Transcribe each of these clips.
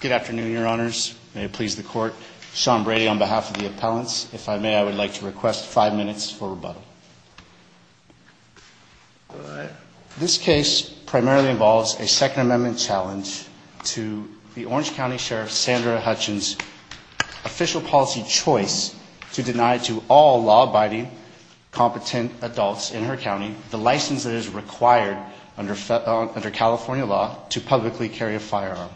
Good afternoon, your honors. May it please the court. Sean Brady on behalf of the appellants. If I may, I would like to request five minutes for rebuttal. This case primarily involves a Second Amendment challenge to the Orange County Sheriff Sandra Hutchens' official policy choice to deny to all law-abiding, competent adults in her county the license that is required under California law to publicly carry a firearm,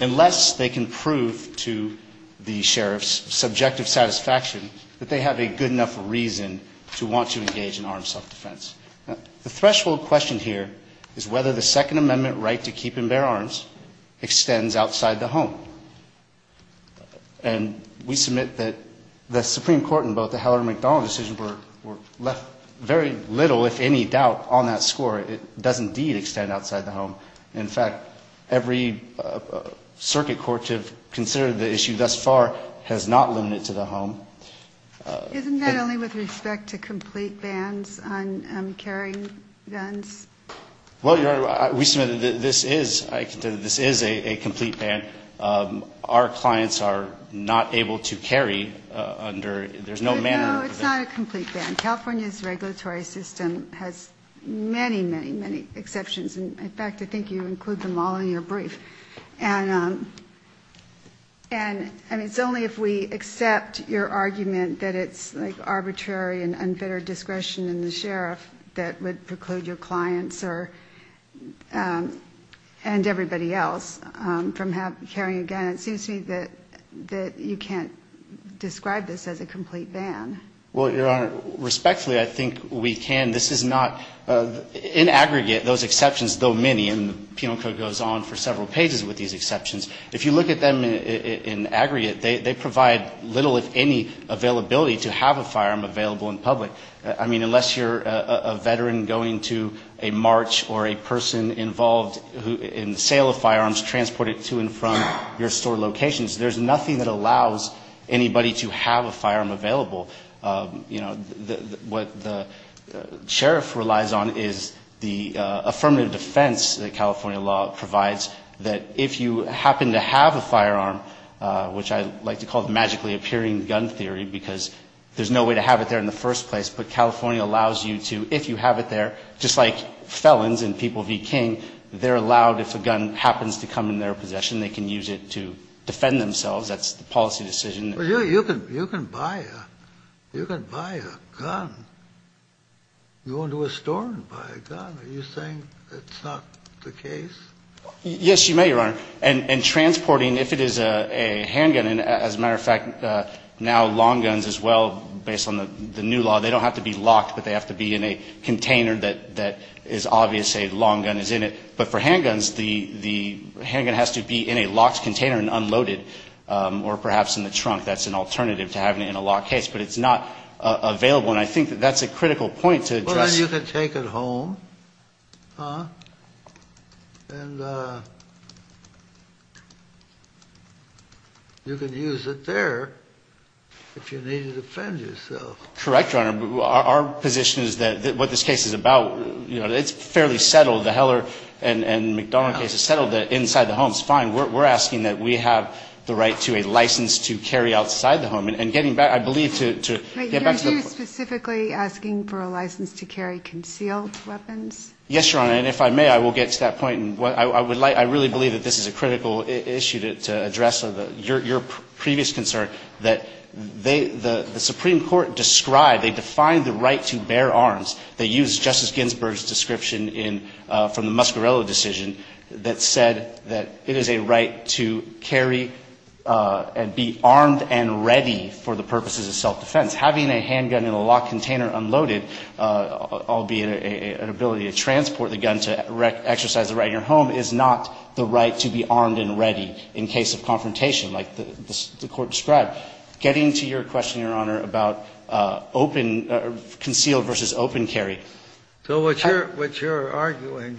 unless they can prove to the sheriff's subjective satisfaction that they have a good enough reason to want to engage in armed self-defense. The threshold question here is whether the Second Amendment right to keep and bear arms extends outside the home. And we submit that the Supreme Court in both the Heller and McDonald decisions were left very little, if any, doubt on that score. It does indeed extend outside the home. In fact, every circuit court to have considered the issue thus far has not limited it to the home. Isn't that only with respect to complete bans on carrying guns? Well, your honor, we submit that this is a complete ban. Our clients are not able to carry under, there's no manner of prevention. No, it's not a complete ban. California's regulatory system has many, many, many exceptions. In fact, I think you include them all in your brief. And it's only if we accept your argument that it's like arbitrary and unfettered discretion in the sheriff that would preclude your clients and everybody else from carrying a gun. And it seems to me that you can't describe this as a complete ban. Well, your honor, respectfully, I think we can. This is not, in aggregate, those exceptions, though many, and the Penal Code goes on for several pages with these exceptions, if you look at them in aggregate, they provide little, if any, availability to have a firearm available in public. I mean, unless you're a veteran going to a march or a person involved in the sale of firearms, transport it to and from your store locations, there's nothing that allows anybody to have a firearm available. You know, what the sheriff relies on is the affirmative defense that California law provides, that if you happen to have a firearm, which I like to call the magically appearing gun theory, because there's no way to have it there in the first place, but California allows you to, if you have it there, just like felons and people v. King, they're allowed, if a gun happens to come in their possession, they can use it to defend themselves. That's the policy decision. But you can buy a gun. You go into a store and buy a gun. Are you saying it's not the case? Yes, you may, your honor. And transporting, if it is a handgun, and as a matter of fact, now long guns as well, based on the new law, they don't have to be locked, but they have to be in a container that is obvious a long gun is in it. But for handguns, the handgun has to be in a locked container and unloaded, or perhaps in the trunk. That's an alternative to having it in a locked case. But it's not available. And I think that that's a critical point to address. Well, then you can take it home and you can use it there if you need to defend yourself. Correct, your honor. Our position is that what this case is about, you know, it's fairly settled. The Heller and McDonald cases settled that inside the home is fine. We're asking that we have the right to a license to carry outside the home. And getting back, I believe, to get back to the point. Wait, you're specifically asking for a license to carry concealed weapons? Yes, your honor. And if I may, I will get to that point. I really believe that this is a critical issue to address your previous concern that the Supreme Court described, they defined the right to bear arms, they used Justice Ginsburg's description from the Muscarello decision that said that it is a right to carry and be armed and ready for the purposes of self-defense. Having a handgun in a locked container unloaded, albeit an ability to transport the gun to exercise the right in your home, is not the right to be armed and ready in case of confrontation like the court described. Getting to your question, your honor, about concealed versus open carry. So what you're arguing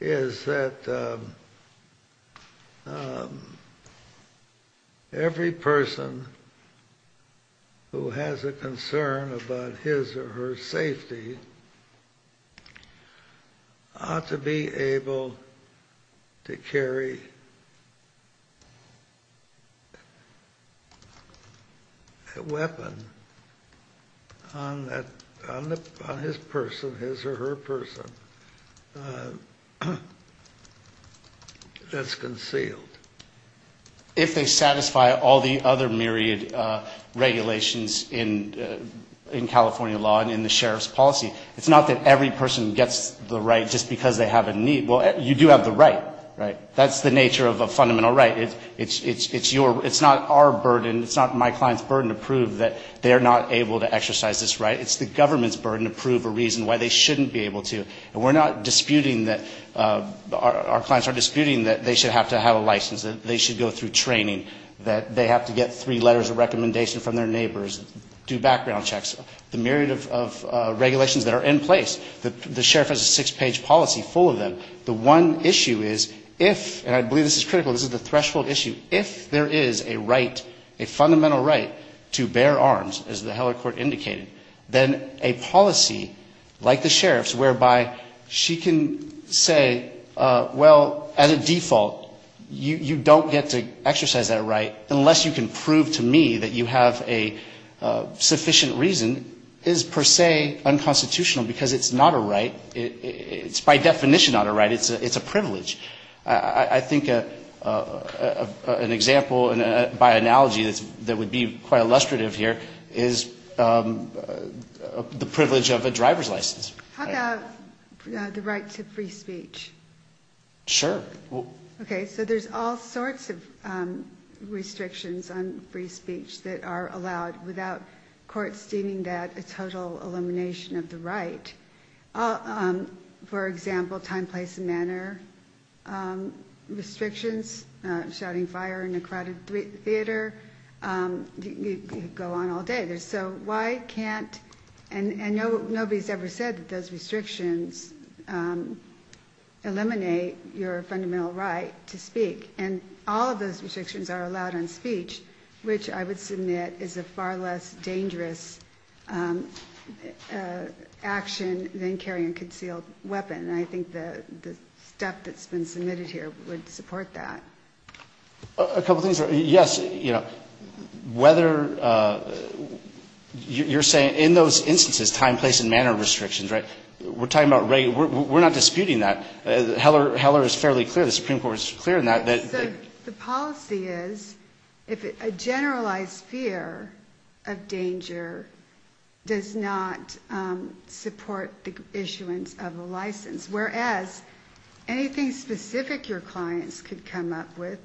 is that every person who has a concern about his or her safety ought to be able to carry a weapon on his person, his or her person, that's concealed. If they satisfy all the other myriad regulations in California law and in the sheriff's policy. It's not that every person gets the right just because they have a need. Well, you do have the right, right? That's the nature of a fundamental right. It's your, it's not our burden, it's not my client's burden to prove that they're not able to exercise this right. It's the government's burden to prove a reason why they shouldn't be able to. And we're not disputing that, our clients are disputing that they should have to have a license, that they should go through training, that they have to get three letters of recommendation from their neighbors, do background checks, the myriad of regulations that are in place. The sheriff has a six-page policy full of them. The one issue is if, and I believe this is critical, this is the threshold issue, if there is a right, a fundamental right to bear arms, as the Heller court indicated, then a policy like the sheriff's whereby she can say, well, as a default, you don't get to exercise that right unless you can prove to me that you have a sufficient reason, is per se unconstitutional because it's not a right. It's by definition not a right. It's a privilege. I think an example by analogy that would be quite illustrative here is, the privilege of a driver's license. How about the right to free speech? Sure. Okay, so there's all sorts of restrictions on free speech that are allowed without courts deeming that a total elimination of the right. For example, time, place, and manner restrictions, shouting fire in a crowded theater, go on all day. So why can't, and nobody's ever said that those restrictions eliminate your fundamental right to speak. And all of those restrictions are allowed on speech, which I would submit is a far less dangerous action than carrying a concealed weapon. And I think the stuff that's been submitted here would support that. A couple things. Yes, you know, whether, you're saying in those instances, time, place, and manner restrictions, right? We're talking about, we're not disputing that. Heller is fairly clear, the Supreme Court is clear on that. The policy is, if a generalized fear of danger does not support the issuance of a license, whereas anything specific your clients could come up with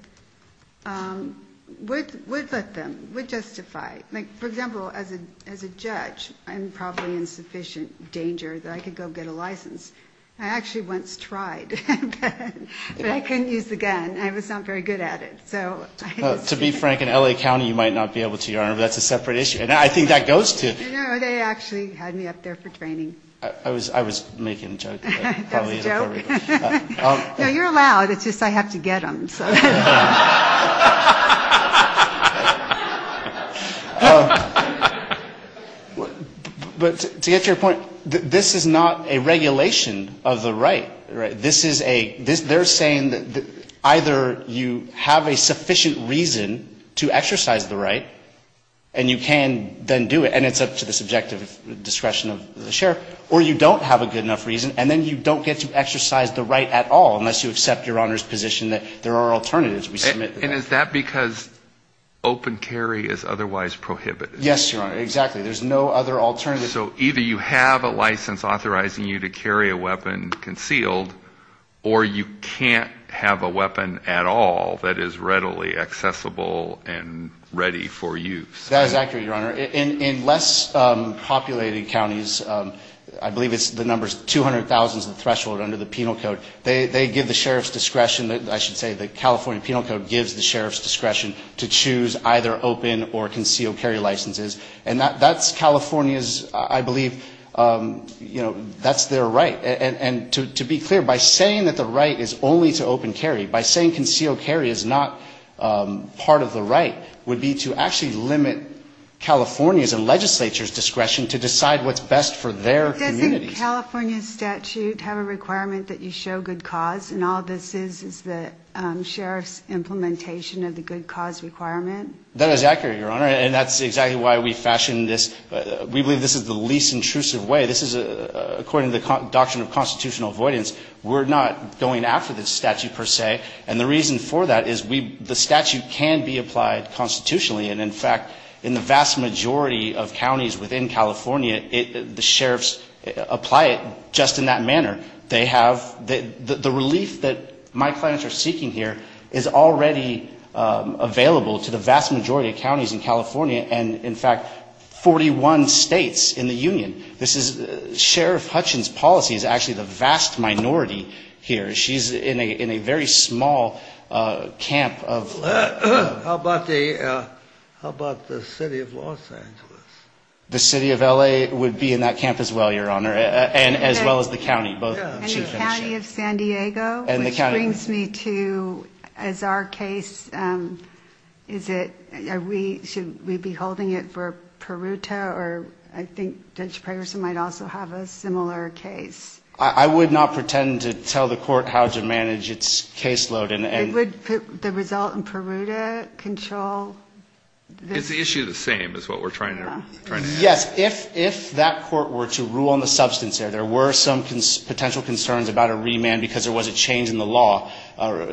would let them, would justify. Like, for example, as a judge, I'm probably in sufficient danger that I could go get a license. I actually once tried, but I couldn't use the gun. I was not very good at it, so... To be frank, in L.A. County, you might not be able to, Your Honor, but that's a separate issue. And I think that goes to... You know, they actually had me up there for training. I was making a joke. No, you're allowed, it's just I have to get them. But to get to your point, this is not a regulation of the right. This is a, they're saying that either you have a sufficient reason to exercise the right, and you can then do it, and it's up to the subjective discretion of the sheriff, or you don't have a good enough reason, and then you don't get to exercise the right at all unless you accept, Your Honor's position, that there are alternatives. And is that because open carry is otherwise prohibited? Yes, Your Honor, exactly. There's no other alternative. So either you have a license authorizing you to carry a weapon concealed, or you can't have a weapon at all that is readily accessible and ready for use. That is accurate, Your Honor. In less populated counties, I believe it's the number 200,000 is the threshold under the penal code, they give the sheriff's discretion, I should say the California Penal Code gives the sheriff's discretion to choose either open or concealed carry licenses. And that's California's, I believe, you know, that's their right. And to be clear, by saying that the right is only to open carry, by saying concealed carry is not part of the right, would be to actually limit California's and legislature's discretion to decide what's best for their communities. Doesn't California's statute have a requirement that you show good cause, and all this is is the sheriff's implementation of the good cause requirement? That is accurate, Your Honor, and that's exactly why we fashioned this. We believe this is the least intrusive way. This is, according to the doctrine of constitutional avoidance, we're not going after this statute, per se. And the reason for that is the statute can be applied constitutionally, and in fact, in the vast majority of counties within California, the sheriffs apply it just in that manner. They have, the relief that my clients are seeking here is already available to the vast majority of counties in California, and in fact, 41 states in the union. This is, Sheriff Hutchins' policy is actually the vast minority here. She's in a very small camp of. How about the city of Los Angeles? The city of L.A. would be in that camp as well, Your Honor, as well as the county. And the county of San Diego, which brings me to, as our case, is it, are we, should we be holding it for Peruta, or I think Judge Pragerson might also have a similar case. I would not pretend to tell the court how to manage its caseload. It would put the result in Peruta control. It's the issue of the same, is what we're trying to. Yes. If that court were to rule on the substance there, there were some potential concerns about a remand because there was a change in the law.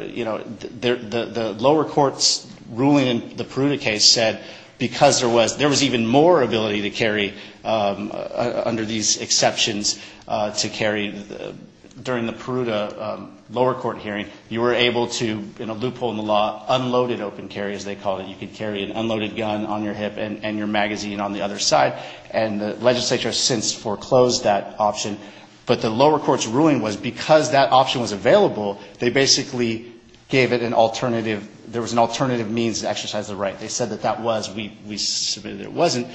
You know, the lower court's ruling in the Peruta case said because there was, there was even more ability to carry, under these exceptions, to carry, during the Peruta lower court hearing, you were able to, in a loophole in the law, unloaded open carry, as they called it. You could carry an unloaded gun on your hip and your magazine on the other side. And the legislature has since foreclosed that option. But the lower court's ruling was because that option was available, they basically gave it an alternative, there was an alternative means to exercise the right. They said that that was. We submitted that it wasn't.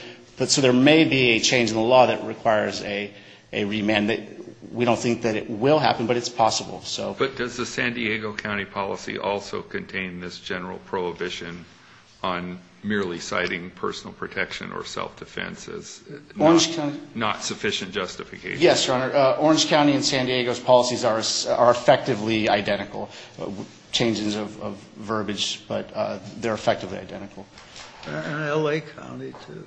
So there may be a change in the law that requires a remand. We don't think that it will happen, but it's possible. But does the San Diego County policy also contain this general prohibition on merely citing personal protection or self-defense as not sufficient justification? Yes, Your Honor. Orange County and San Diego's policies are effectively identical. Changes of verbiage, but they're effectively identical. And L.A. County, too.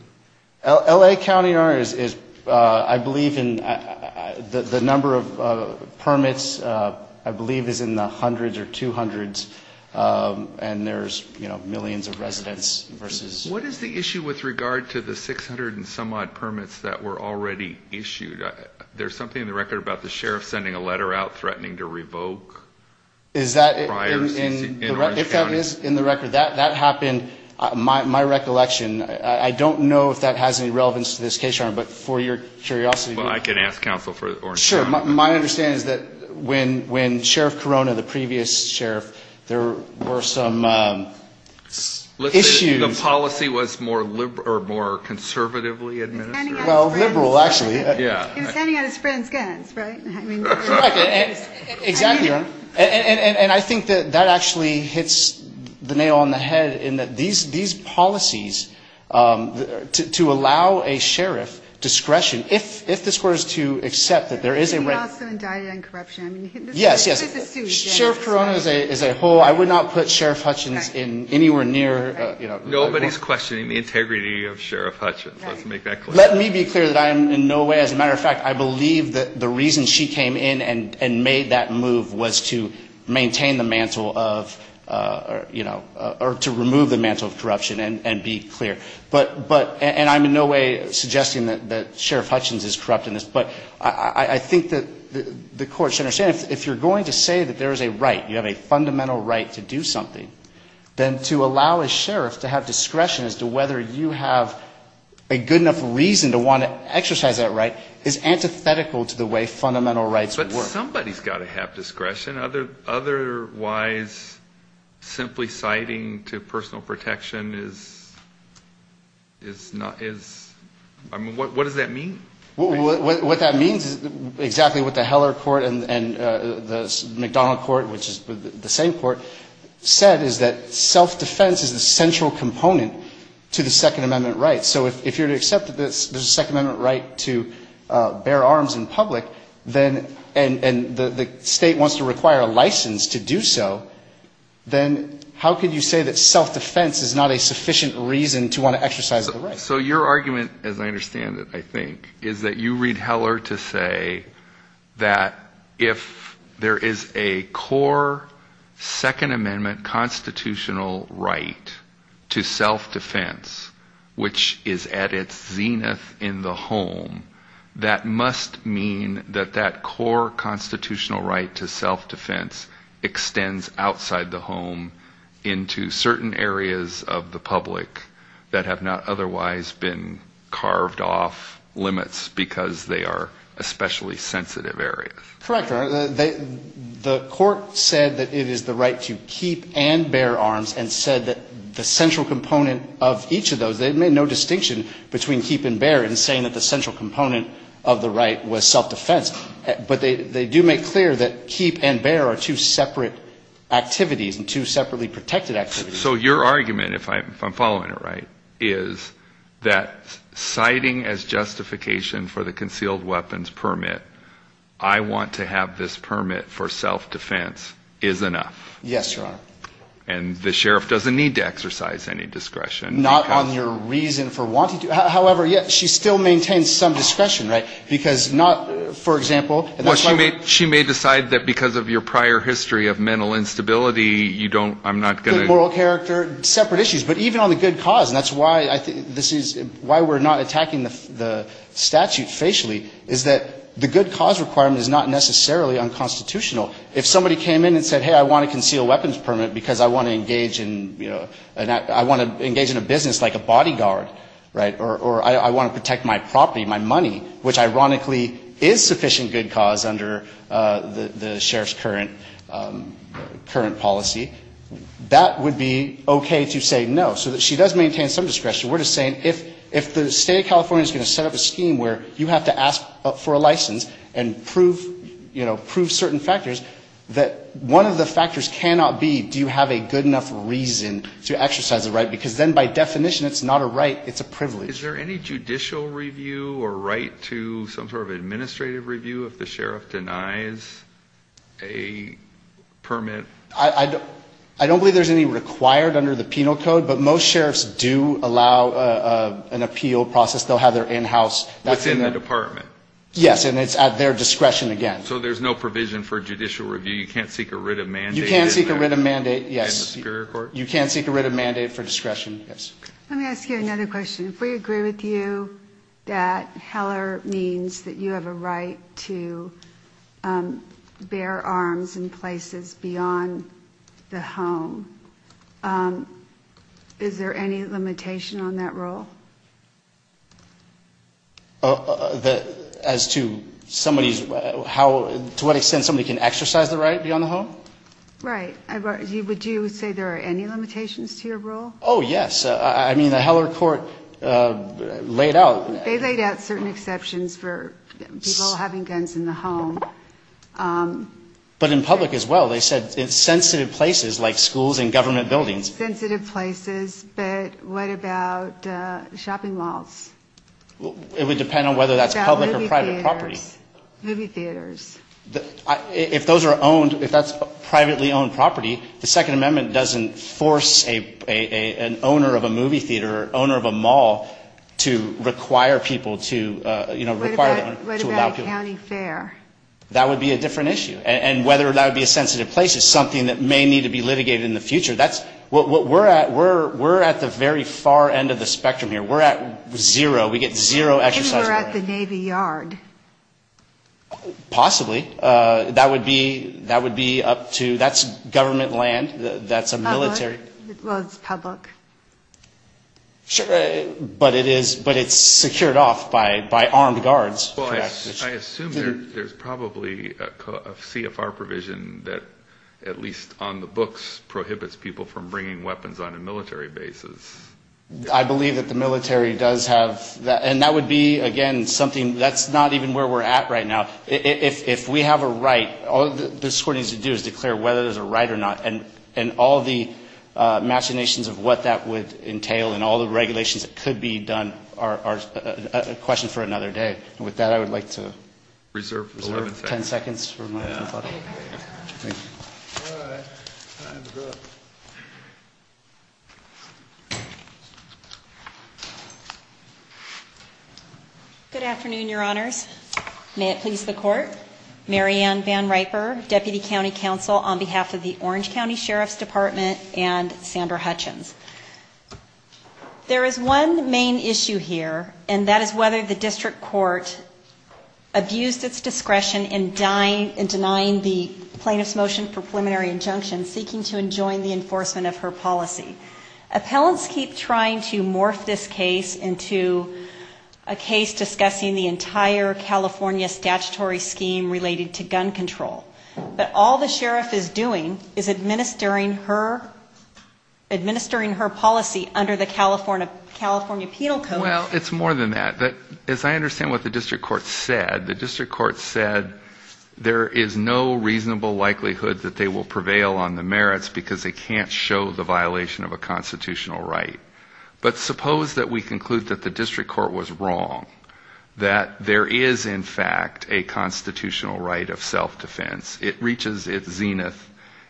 L.A. County, Your Honor, is, I believe in, the number of permits, I believe, is in the hundreds or 200s, and there's, you know, millions of residents versus. What is the issue with regard to the 600 and some odd permits that were already issued? There's something in the record about the sheriff sending a letter out threatening to revoke. Is that in the record? If that is in the record, that happened. My recollection, I don't know if that has any relevance to this case, Your Honor, but for your curiosity. Well, I can ask counsel for it. Sure. My understanding is that when Sheriff Corona, the previous sheriff, there were some issues. The policy was more conservatively administered? Well, liberal, actually. Yeah. He was handing out his friend's guns, right? Exactly, Your Honor. And I think that that actually hits the nail on the head in that these policies, to allow a sheriff discretion, if this were to accept that there is a right. He was also indicted on corruption. Yes, yes. Sheriff Corona is a whole. I would not put Sheriff Hutchins anywhere near. Nobody's questioning the integrity of Sheriff Hutchins. Let's make that clear. Let me be clear that I am in no way. As a matter of fact, I believe that the reason she came in and made that move was to maintain the mantle of, you know, or to remove the mantle of corruption and be clear. And I'm in no way suggesting that Sheriff Hutchins is corrupt in this. But I think that the court should understand, if you're going to say that there is a right, you have a fundamental right to do something, then to allow a sheriff to have discretion as to whether you have a good enough reason to want to exercise that right is antithetical to the way fundamental rights work. But somebody's got to have discretion. Otherwise, simply citing to personal protection is not, is, I mean, what does that mean? What that means is exactly what the Heller court and the McDonnell court, which is the same court, said is that self-defense is the central component to the Second Amendment rights. So if you're to accept that there's a Second Amendment right to bear arms in public, then, and the state wants to require a license to do so, then how could you say that self-defense is not a sufficient reason to want to exercise the right? So your argument, as I understand it, I think, is that you read Heller to say that if there is a core Second Amendment constitutional right to self-defense, which is at its zenith in the home, that must mean that that core constitutional right to self-defense extends outside the home into certain areas of the public that have not otherwise been carved off limits because they are especially sensitive areas. Correct, Your Honor. The court said that it is the right to keep and bear arms and said that the central component of each of those, they made no distinction between keep and bear in saying that the central component of the right was self-defense. But they do make clear that keep and bear are two separate activities and two separately protected activities. So your argument, if I'm following it right, is that citing as justification for the concealed weapons permit, I want to have this permit for self-defense is enough. Yes, Your Honor. And the sheriff doesn't need to exercise any discretion. Not on your reason for wanting to. However, yes, she still maintains some discretion, right? Because not, for example, and that's why we're... Well, she may decide that because of your prior history of mental instability, you don't, I'm not going to... Moral character, separate issues. But even on the good cause, and that's why I think this is, why we're not attacking the statute facially, is that the good cause requirement is not necessarily unconstitutional. If somebody came in and said, hey, I want a concealed weapons permit because I want to engage in, you know, I want to engage in a business like a bodyguard, right, or I want to protect my property, my money, which ironically is sufficient good cause under the sheriff's current policy, that would be okay to say no. So she does maintain some discretion. We're just saying if the State of California is going to set up a scheme where you have to ask for a license and prove, you know, prove certain factors, that one of the factors cannot be do you have a good enough reason to exercise a right, because then by definition it's not a right, it's a privilege. Is there any judicial review or right to some sort of administrative review if the sheriff denies a permit? I don't believe there's any required under the penal code, but most sheriffs do allow an appeal process. They'll have their in-house... Within the department. Yes, and it's at their discretion again. So there's no provision for judicial review. You can't seek a writ of mandate... You can't seek a writ of mandate, yes. In the superior court? You can't seek a writ of mandate for discretion, yes. Let me ask you another question. If we agree with you that Heller means that you have a right to bear arms in places beyond the home, is there any limitation on that rule? As to somebody's... To what extent somebody can exercise the right beyond the home? Right. Would you say there are any limitations to your rule? Oh, yes. I mean, the Heller court laid out... They laid out certain exceptions for people having guns in the home. But in public as well, they said sensitive places like schools and government buildings. Sensitive places, but what about shopping malls? It would depend on whether that's public or private property. Movie theaters. Movie theaters. If those are owned, if that's privately owned property, the Second Amendment doesn't force an owner of a movie theater or owner of a mall to require people to, you know, require... What about county fair? That would be a different issue. And whether that would be a sensitive place is something that may need to be litigated in the future. That's what we're at. We're at the very far end of the spectrum here. We're at zero. We get zero exercise... Maybe we're at the Navy Yard. Possibly. That would be up to... That's government land. That's a military... Well, it's public. Sure, but it's secured off by armed guards. Well, I assume there's probably a CFR provision that, at least on the books, prohibits people from bringing weapons on a military basis. I believe that the military does have... And that would be, again, something... That's not even where we're at right now. If we have a right, all this court needs to do is declare whether there's a right or not, and all the machinations of what that would entail and all the regulations that could be done are a question for another day. And with that, I would like to... Reserve 10 seconds. Thank you. All right. Time to go. Good afternoon, Your Honors. May it please the Court. Mary Ann Van Riper, Deputy County Counsel on behalf of the Orange County Sheriff's Department and Sandra Hutchins. There is one main issue here, and that is whether the district court abused its discretion in denying the plaintiff's motion for preliminary injunction, seeking to enjoin the enforcement of her policy. Appellants keep trying to morph this case into a case discussing the entire California statutory scheme related to gun control. But all the sheriff is doing is administering her policy under the California Penal Code. Well, it's more than that. As I understand what the district court said, the district court said there is no reasonable likelihood that they will prevail on the merits because they can't show the violation of a constitutional right. But suppose that we conclude that the district court was wrong, that there is, in fact, a constitutional right of self-defense. It reaches its zenith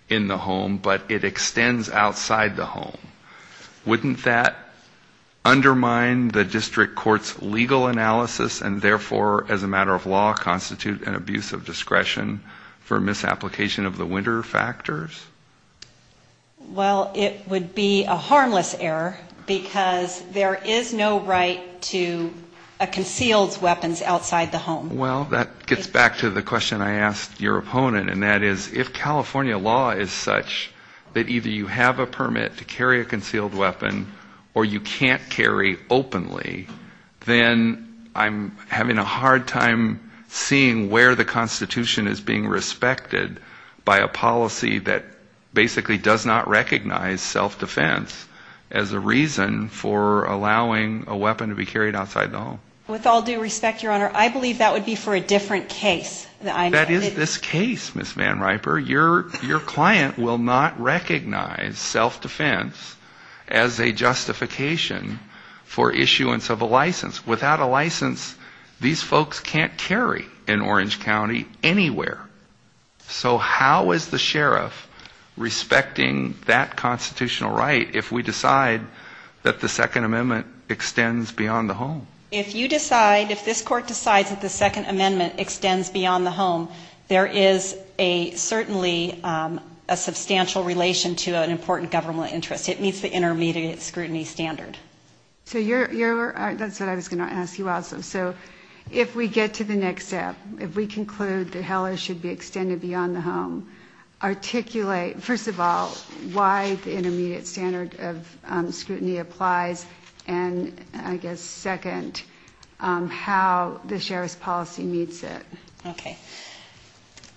in the home, but it extends outside the home. Wouldn't that undermine the district court's legal analysis and, therefore, as a matter of law, constitute an abuse of discretion for misapplication of the winter factors? Well, it would be a harmless error because there is no right to a concealed weapons outside the home. Well, that gets back to the question I asked your opponent, and that is, if California law is such that either you have a permit to carry a concealed weapon or you can't carry openly, then I'm having a hard time seeing where the Constitution is being respected by a policy that basically does not recognize self-defense as a reason for allowing a weapon to be carried outside the home. With all due respect, Your Honor, I believe that would be for a different case. That is this case, Ms. Van Riper. Your client will not recognize self-defense as a justification for issuance of a license. Without a license, these folks can't carry in Orange County anywhere. So how is the sheriff respecting that constitutional right if we decide that the Second Amendment extends beyond the home? If you decide, if this Court decides that the Second Amendment extends beyond the home, there is certainly a substantial relation to an important government interest. It meets the intermediate scrutiny standard. So that's what I was going to ask you also. So if we get to the next step, if we conclude that HELLA should be extended beyond the home, articulate, first of all, why the intermediate standard of scrutiny applies, and, I guess, second, how the sheriff's policy meets it. Okay.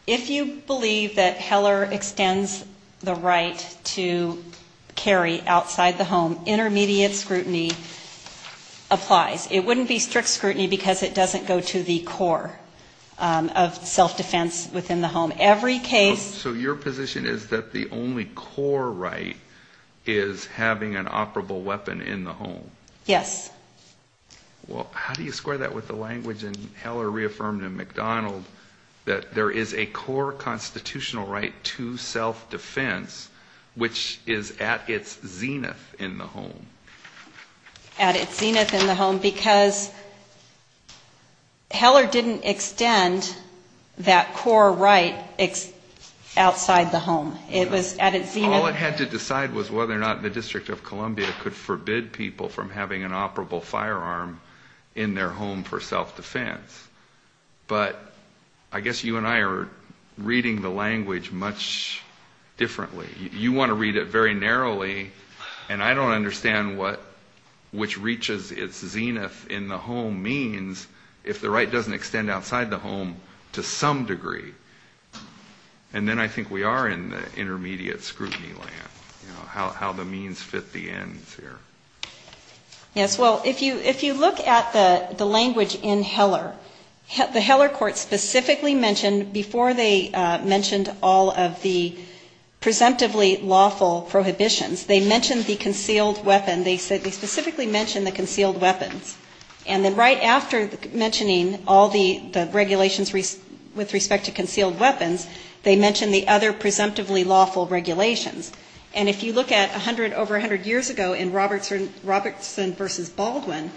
If you believe that HELLA extends the right to carry outside the home, intermediate scrutiny applies. It wouldn't be strict scrutiny because it doesn't go to the core of self-defense within the home. So your position is that the only core right is having an operable weapon in the home? Yes. Well, how do you square that with the language in HELLA reaffirmed in McDonald that there is a core constitutional right to self-defense, which is at its zenith in the home? At its zenith in the home, because HELLA didn't extend that core right outside the home. It was at its zenith. All it had to decide was whether or not the District of Columbia could forbid people from having an operable firearm in their home for self-defense. But I guess you and I are reading the language much differently. You want to read it very narrowly, and I don't understand what which reaches its zenith in the home means if the right doesn't extend outside the home to some degree. And then I think we are in the intermediate scrutiny land, you know, how the means fit the ends here. Yes. Well, if you look at the language in HELLR, the HELLR court specifically mentioned, before they mentioned all of the presumptively lawful prohibitions, they mentioned the concealed weapon. They specifically mentioned the concealed weapons. And then right after mentioning all the regulations with respect to concealed weapons, they mentioned the other presumptively lawful regulations. And if you look at over 100 years ago in Robertson v. Baldwin,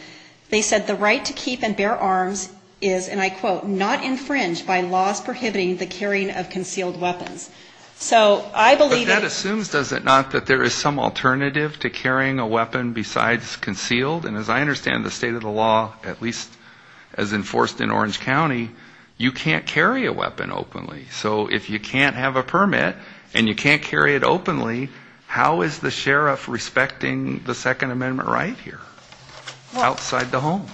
they said the right to keep and bear arms is, and I quote, not infringed by laws prohibiting the carrying of concealed weapons. So I believe that... But that assumes, does it not, that there is some alternative to carrying a weapon besides concealed? And as I understand the state of the law, at least as enforced in Orange County, you can't carry a weapon openly. So if you can't have a permit and you can't carry it openly, how is the sheriff respecting the Second Amendment right here outside the home?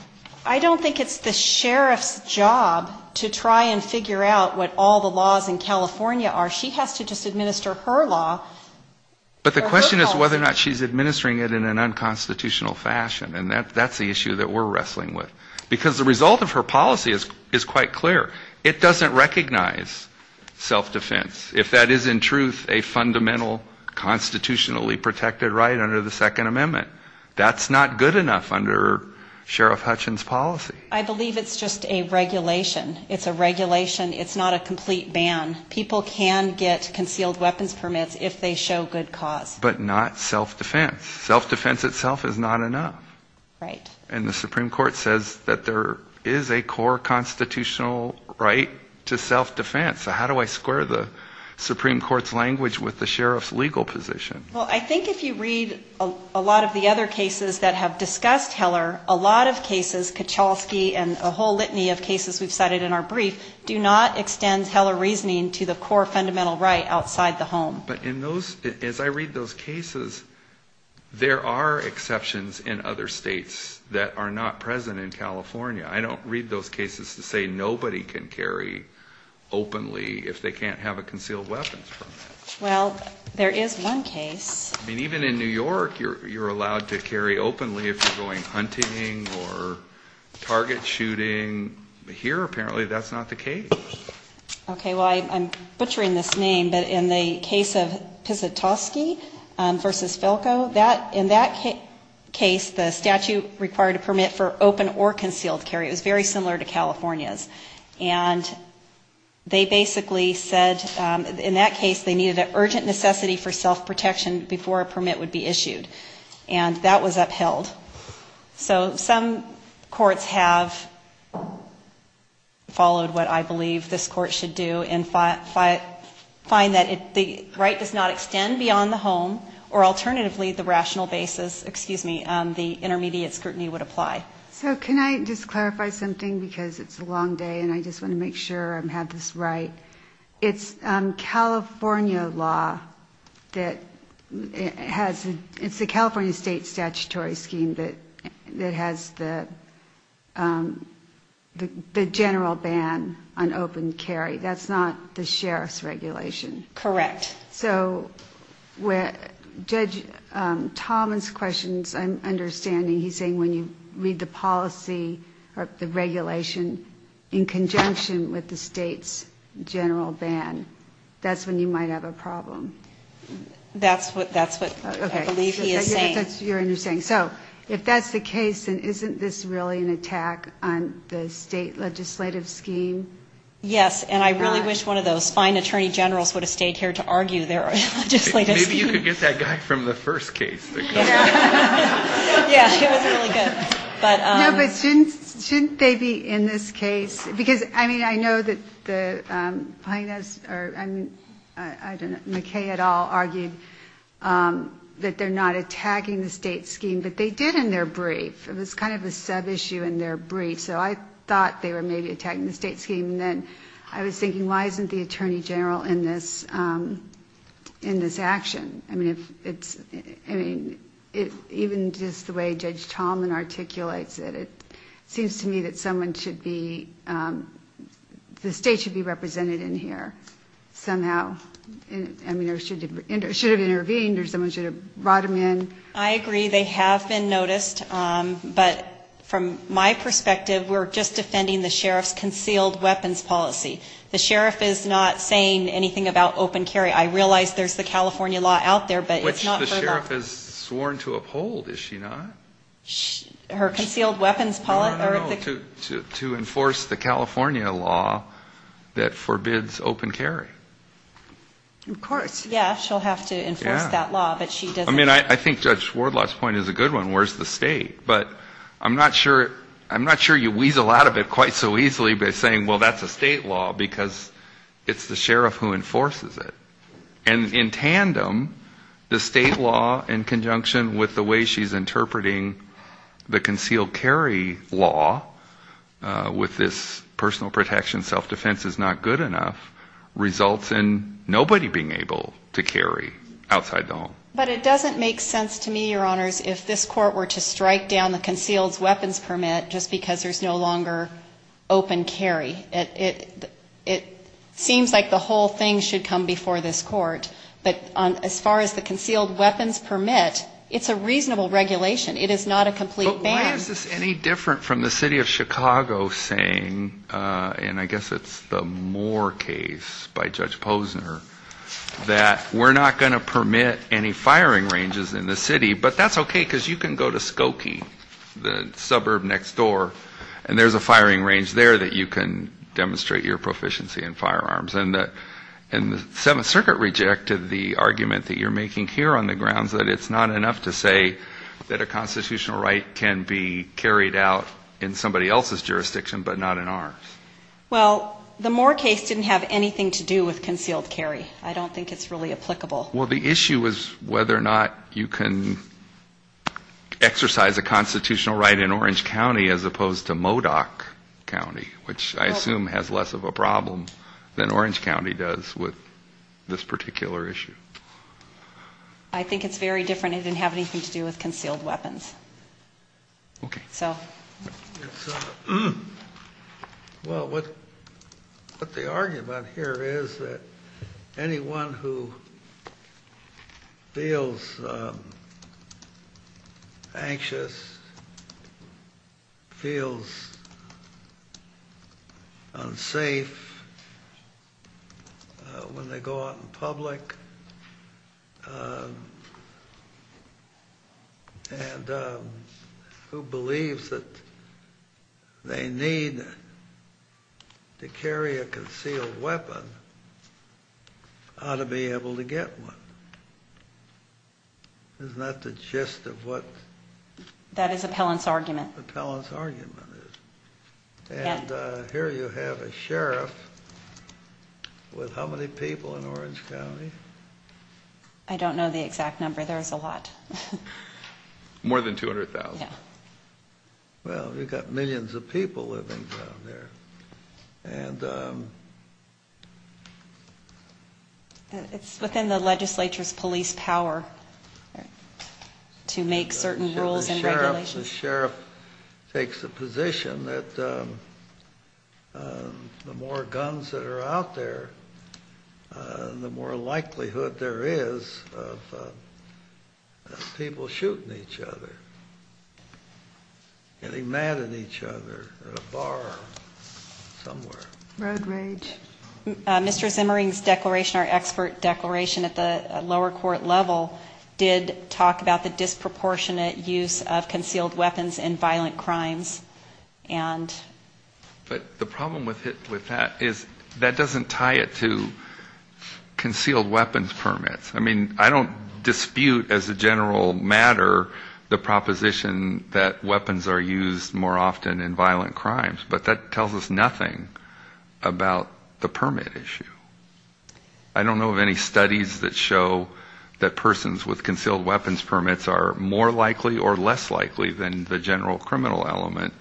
I don't think it's the sheriff's job to try and figure out what all the laws in California are. She has to just administer her law. But the question is whether or not she's administering it in an unconstitutional fashion, and that's the issue that we're wrestling with. Because the result of her policy is quite clear. It doesn't recognize self-defense. If that is in truth a fundamental constitutionally protected right under the Second Amendment, that's not good enough under Sheriff Hutchins' policy. I believe it's just a regulation. It's a regulation. It's not a complete ban. People can get concealed weapons permits if they show good cause. But not self-defense. Self-defense itself is not enough. Right. And the Supreme Court says that there is a core constitutional right to self-defense. So how do I square the Supreme Court's language with the sheriff's legal position? Well, I think if you read a lot of the other cases that have discussed Heller, a lot of cases, Kuchelski and a whole litany of cases we've cited in our brief, do not extend Heller reasoning to the core fundamental right outside the home. But in those, as I read those cases, there are exceptions in other states that are not present in California. I don't read those cases to say nobody can carry openly if they can't have a concealed weapons permit. Well, there is one case. I mean, even in New York, you're allowed to carry openly if you're going hunting or target shooting. Here, apparently, that's not the case. Okay. Well, I'm butchering this name, but in the case of Pisotowski v. Felko, in that case the statute required a permit for open or concealed carry. It was very similar to California's. And they basically said, in that case, they needed an urgent necessity for self-protection before a permit would be issued. And that was upheld. So some courts have followed what I believe this court should do and find that the right does not extend beyond the home, or alternatively the rational basis, excuse me, the intermediate scrutiny would apply. So can I just clarify something? Because it's a long day and I just want to make sure I have this right. It's California law that has the California state statutory scheme that has the general ban on open carry. That's not the sheriff's regulation. Correct. So Judge Thomas' question, I'm understanding, he's saying when you read the policy or the regulation in conjunction with the state's general ban, that's when you might have a problem. That's what I believe he is saying. Okay. That's your understanding. So if that's the case, then isn't this really an attack on the state legislative scheme? Yes. And I really wish one of those fine attorney generals would have stayed here to argue their legislative scheme. Maybe you could get that guy from the first case. Yeah, it was really good. No, but shouldn't they be in this case? Because, I mean, I know that the plaintiffs or, I don't know, McKay et al. argued that they're not attacking the state scheme, but they did in their brief. It was kind of a subissue in their brief. So I thought they were maybe attacking the state scheme. And then I was thinking, why isn't the attorney general in this action? I mean, even just the way Judge Tomlin articulates it, it seems to me that someone should be, the state should be represented in here somehow. I mean, it should have intervened or someone should have brought them in. I agree. They have been noticed. But from my perspective, we're just defending the sheriff's concealed weapons policy. The sheriff is not saying anything about open carry. I realize there's the California law out there, but it's not her law. Which the sheriff has sworn to uphold, is she not? Her concealed weapons policy? No, no, no. To enforce the California law that forbids open carry. Of course. Yeah, she'll have to enforce that law, but she doesn't. I mean, I think Judge Wardlaw's point is a good one, where's the state? But I'm not sure you weasel out of it quite so easily by saying, well, that's a state law, because it's the sheriff who enforces it. And in tandem, the state law in conjunction with the way she's interpreting the concealed carry law, with this personal protection, self-defense is not good enough, results in nobody being able to carry outside the home. But it doesn't make sense to me, Your Honors, if this court were to strike down the concealed weapons permit just because there's no longer open carry. It seems like the whole thing should come before this court. But as far as the concealed weapons permit, it's a reasonable regulation. It is not a complete ban. But why is this any different from the city of Chicago saying, and I guess it's the Moore case by Judge Posner, that we're not going to permit any firing ranges in the city, but that's okay because you can go to Skokie, the suburb next door, and there's a firing range there that you can demonstrate your proficiency in firearms. And the Seventh Circuit rejected the argument that you're making here on the grounds that it's not enough to say that a constitutional right can be carried out in somebody else's jurisdiction but not in ours. Well, the Moore case didn't have anything to do with concealed carry. I don't think it's really applicable. Well, the issue is whether or not you can exercise a constitutional right in Orange County as opposed to Modoc County, which I assume has less of a problem than Orange County does with this particular issue. I think it's very different. It didn't have anything to do with concealed weapons. Okay. So? Well, what the argument here is that anyone who feels anxious, feels unsafe when they go out in public, and who believes that they need to carry a concealed weapon ought to be able to get one. Isn't that the gist of what? That is Appellant's argument. Appellant's argument. And here you have a sheriff with how many people in Orange County? I don't know the exact number. There's a lot. More than 200,000. Yeah. Well, you've got millions of people living down there. And... It's within the legislature's police power to make certain rules and regulations. The sheriff takes the position that the more guns that are out there, the more likelihood there is of people shooting each other, getting mad at each other at a bar somewhere. Road rage. Mr. Zimmering's declaration, our expert declaration at the lower court level, did talk about the disproportionate use of concealed weapons in violent crimes and... But the problem with that is that doesn't tie it to concealed weapons permits. I mean, I don't dispute as a general matter the proposition that weapons are used more often in violent crimes. But that tells us nothing about the permit issue. I don't know of any studies that show that persons with concealed weapons permits are more likely or less likely than the general criminal element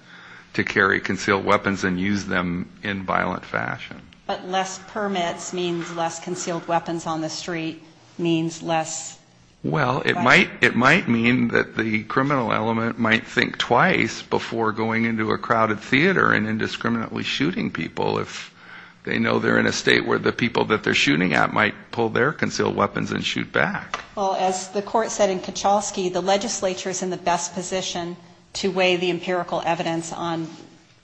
to carry concealed weapons and use them in violent fashion. But less permits means less concealed weapons on the street means less... Well, it might mean that the criminal element might think twice before going into a crowded theater and indiscriminately shooting people if they know they're in a state where the people that they're shooting at might pull their concealed weapons and shoot back. Well, as the court said in Kachowski, the legislature is in the best position to weigh the empirical evidence on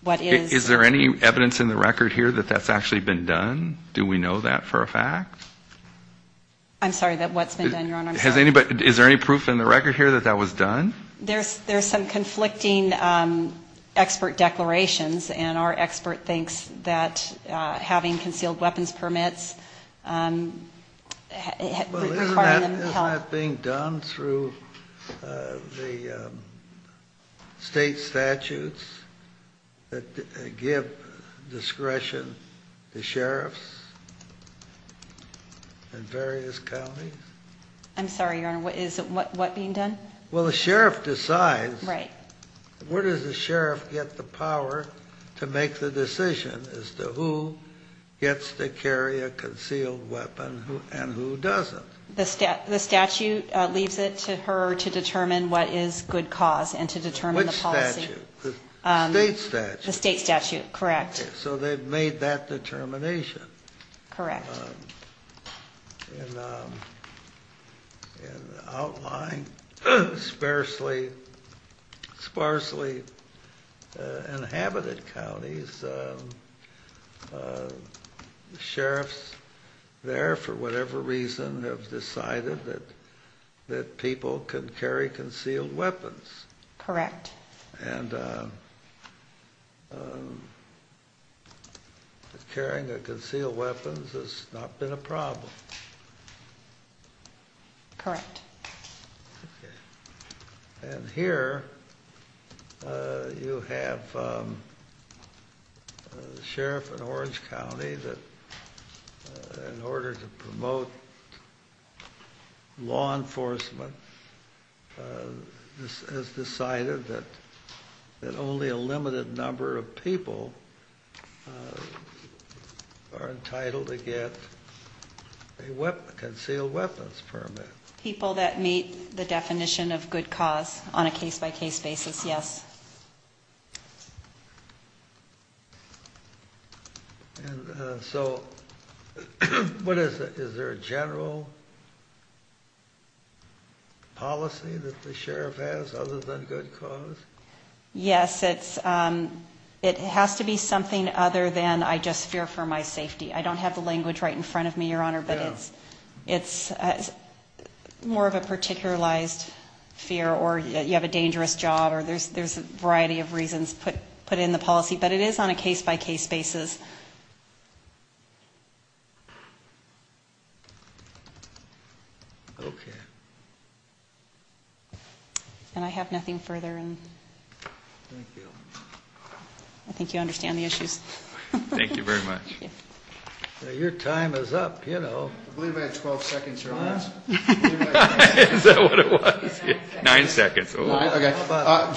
what is... Is there any evidence in the record here that that's actually been done? Do we know that for a fact? I'm sorry, what's been done, Your Honor? I'm sorry. Is there any proof in the record here that that was done? There's some conflicting expert declarations, and our expert thinks that having concealed weapons permits... Isn't that being done through the state statutes that give discretion to sheriffs in various counties? I'm sorry, Your Honor, is what being done? Well, the sheriff decides... Right. Where does the sheriff get the power to make the decision as to who gets to carry a concealed weapon and who doesn't? The statute leaves it to her to determine what is good cause and to determine the policy. Which statute? The state statute? The state statute, correct. So they've made that determination. Correct. In outlying, sparsely inhabited counties, sheriffs there, for whatever reason, have decided that people can carry concealed weapons. Correct. And carrying a concealed weapon has not been a problem. Correct. And here you have the sheriff in Orange County that, in order to promote law enforcement, has decided that only a limited number of people are entitled to get a concealed weapons permit. Does that meet the definition of good cause on a case-by-case basis? Yes. So is there a general policy that the sheriff has other than good cause? Yes. It has to be something other than, I just fear for my safety. I don't have the language right in front of me, Your Honor. But it's more of a particularized fear, or you have a dangerous job, or there's a variety of reasons put in the policy. But it is on a case-by-case basis. Okay. And I have nothing further. Thank you. I think you understand the issues. Thank you very much. Your time is up, you know. I believe I had 12 seconds, Your Honor. Is that what it was? Nine seconds. How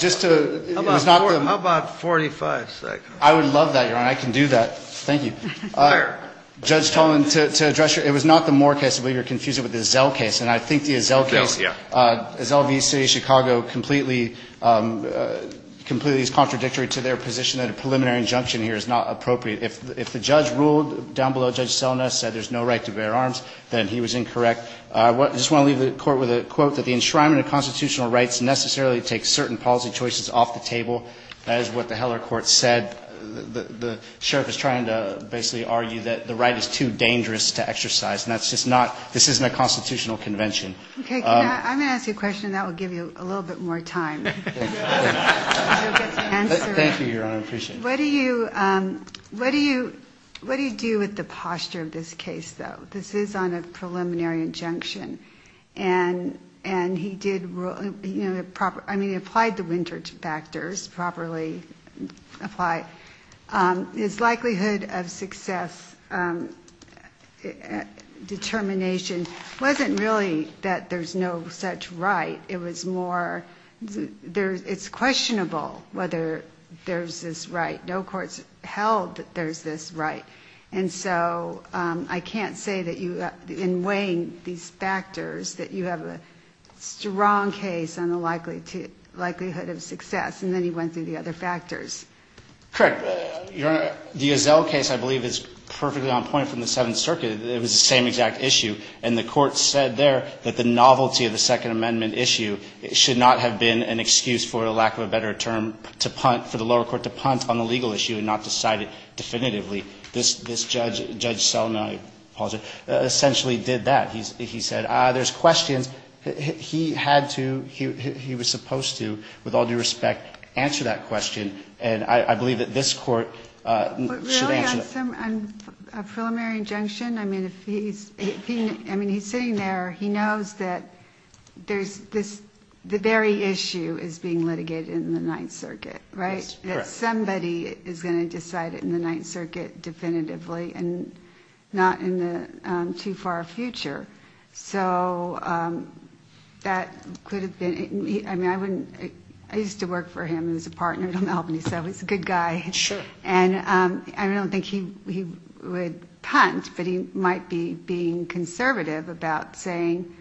about 45 seconds? I would love that, Your Honor. I can do that. Thank you. Where? Judge Tolman, to address you, it was not the Moore case. I believe you're confused with the Zell case. And I think the Zell case, Zell v. City of Chicago, completely is contradictory to their position that a preliminary injunction here is not appropriate. If the judge ruled down below, Judge Selna, said there's no right to bear arms, then he was incorrect. I just want to leave the Court with a quote, that the enshrinement of constitutional rights necessarily takes certain policy choices off the table. That is what the Heller Court said. The sheriff is trying to basically argue that the right is too dangerous to exercise. And that's just not, this isn't a constitutional convention. Okay. I'm going to ask you a question, and that will give you a little bit more time. You'll get to answer it. Thank you, Your Honor. I appreciate it. What do you, what do you, what do you do with the posture of this case, though? This is on a preliminary injunction. And, and he did, you know, the proper, I mean, he applied the Winters factors, properly apply. His likelihood of success determination wasn't really that there's no such right. It was more, it's questionable whether there's this right. No court's held that there's this right. And so I can't say that you, in weighing these factors, that you have a strong case on the likelihood of success. And then he went through the other factors. Eric, Your Honor, the Ozell case, I believe, is perfectly on point from the Seventh Circuit. It was the same exact issue. And the Court said there that the novelty of the Second Amendment issue should not have been an excuse, for lack of a better term, to punt, for the lower court to punt on the legal issue and not to cite it definitively. This, this judge, Judge Selden, I apologize, essentially did that. He said, ah, there's questions. He had to, he was supposed to, with all due respect, answer that question. And I believe that this Court should answer that. But really, on a preliminary injunction, I mean, if he's, I mean, he's sitting there, he knows that there's this, the very issue is being litigated in the Ninth Circuit, right? That somebody is going to decide it in the Ninth Circuit definitively and not in the too far future. So that could have been, I mean, I wouldn't, I used to work for him as a partner at Albany, so he's a good guy. And I don't think he would punt, but he might be being conservative about saying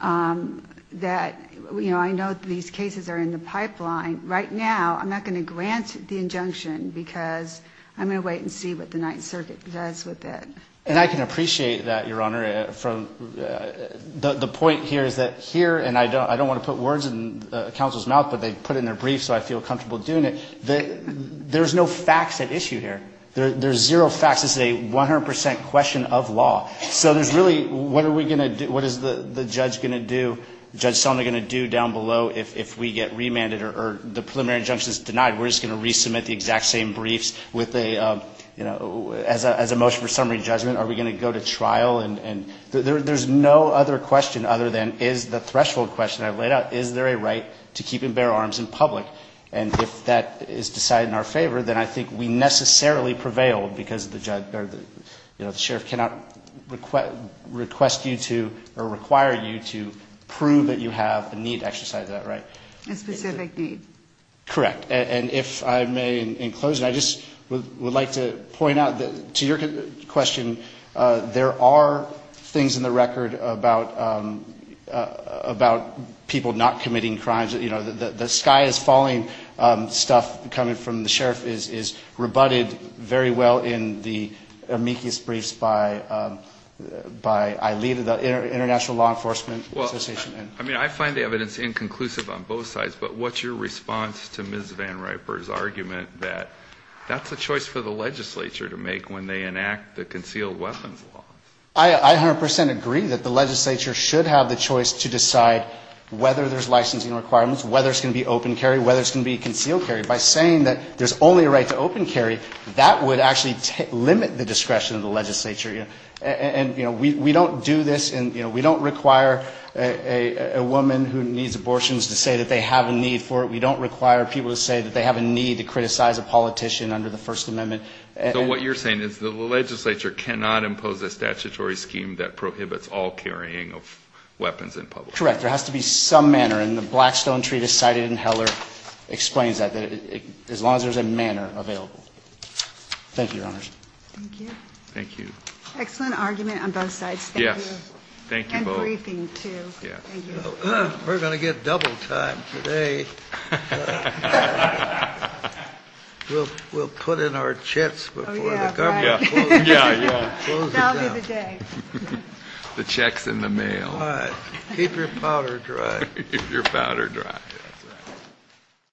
that, you know, I know that these cases are in the pipeline. Right now, I'm not going to grant the injunction because I'm going to wait and see what the Ninth Circuit does with it. And I can appreciate that, Your Honor, from, the point here is that here, and I don't want to put words in counsel's mouth, but they put it in their brief, so I feel comfortable doing it. There's no facts at issue here. There's zero facts. This is a 100 percent question of law. So there's really, what are we going to do, what is the judge going to do, Judge Selma going to do down below if we get remanded or the preliminary injunction is denied? We're just going to resubmit the exact same briefs with a, you know, as a motion for summary judgment, are we going to go to trial? And there's no other question other than is the threshold question I've laid out, is there a right to keep and bear arms in public? And if that is decided in our favor, then I think we necessarily prevail because the judge, or the sheriff cannot request you to, or require you to prove that you have a need to exercise that right. And if I may, in closing, I just would like to point out that to your question, there are things in the record about people not committing crimes, you know, the sky is falling stuff coming from the sheriff is rebutted very well in the amicus briefs by ILEAD, the International Law Enforcement Association. I mean, I find the evidence inconclusive on both sides, but what's your response to Ms. Van Riper's argument that that's a choice for the legislature to make when they enact the concealed weapons law? I 100 percent agree that the legislature should have the choice to decide whether there's licensing requirements, whether it's going to be open carry, whether it's going to be concealed carry. By saying that there's only a right to open carry, that would actually limit the discretion of the legislature. And, you know, we don't do this, and we don't require a woman who needs abortions to say that they have a need for it. We don't require people to say that they have a need to criticize a politician under the First Amendment. So what you're saying is the legislature cannot impose a statutory scheme that prohibits all carrying of weapons in public? Correct. There has to be some manner, and the Blackstone Treatise cited in Heller explains that, that as long as there's a manner available. Thank you, Your Honors. Thank you. Thank you. Excellent argument on both sides. Yes. Thank you both. And briefing, too. Yeah. Thank you. We're going to get double time today. We'll put in our checks before the government closes down. Yeah, yeah. That'll be the day. The checks in the mail. All right. Keep your powder dry. Keep your powder dry. That's right.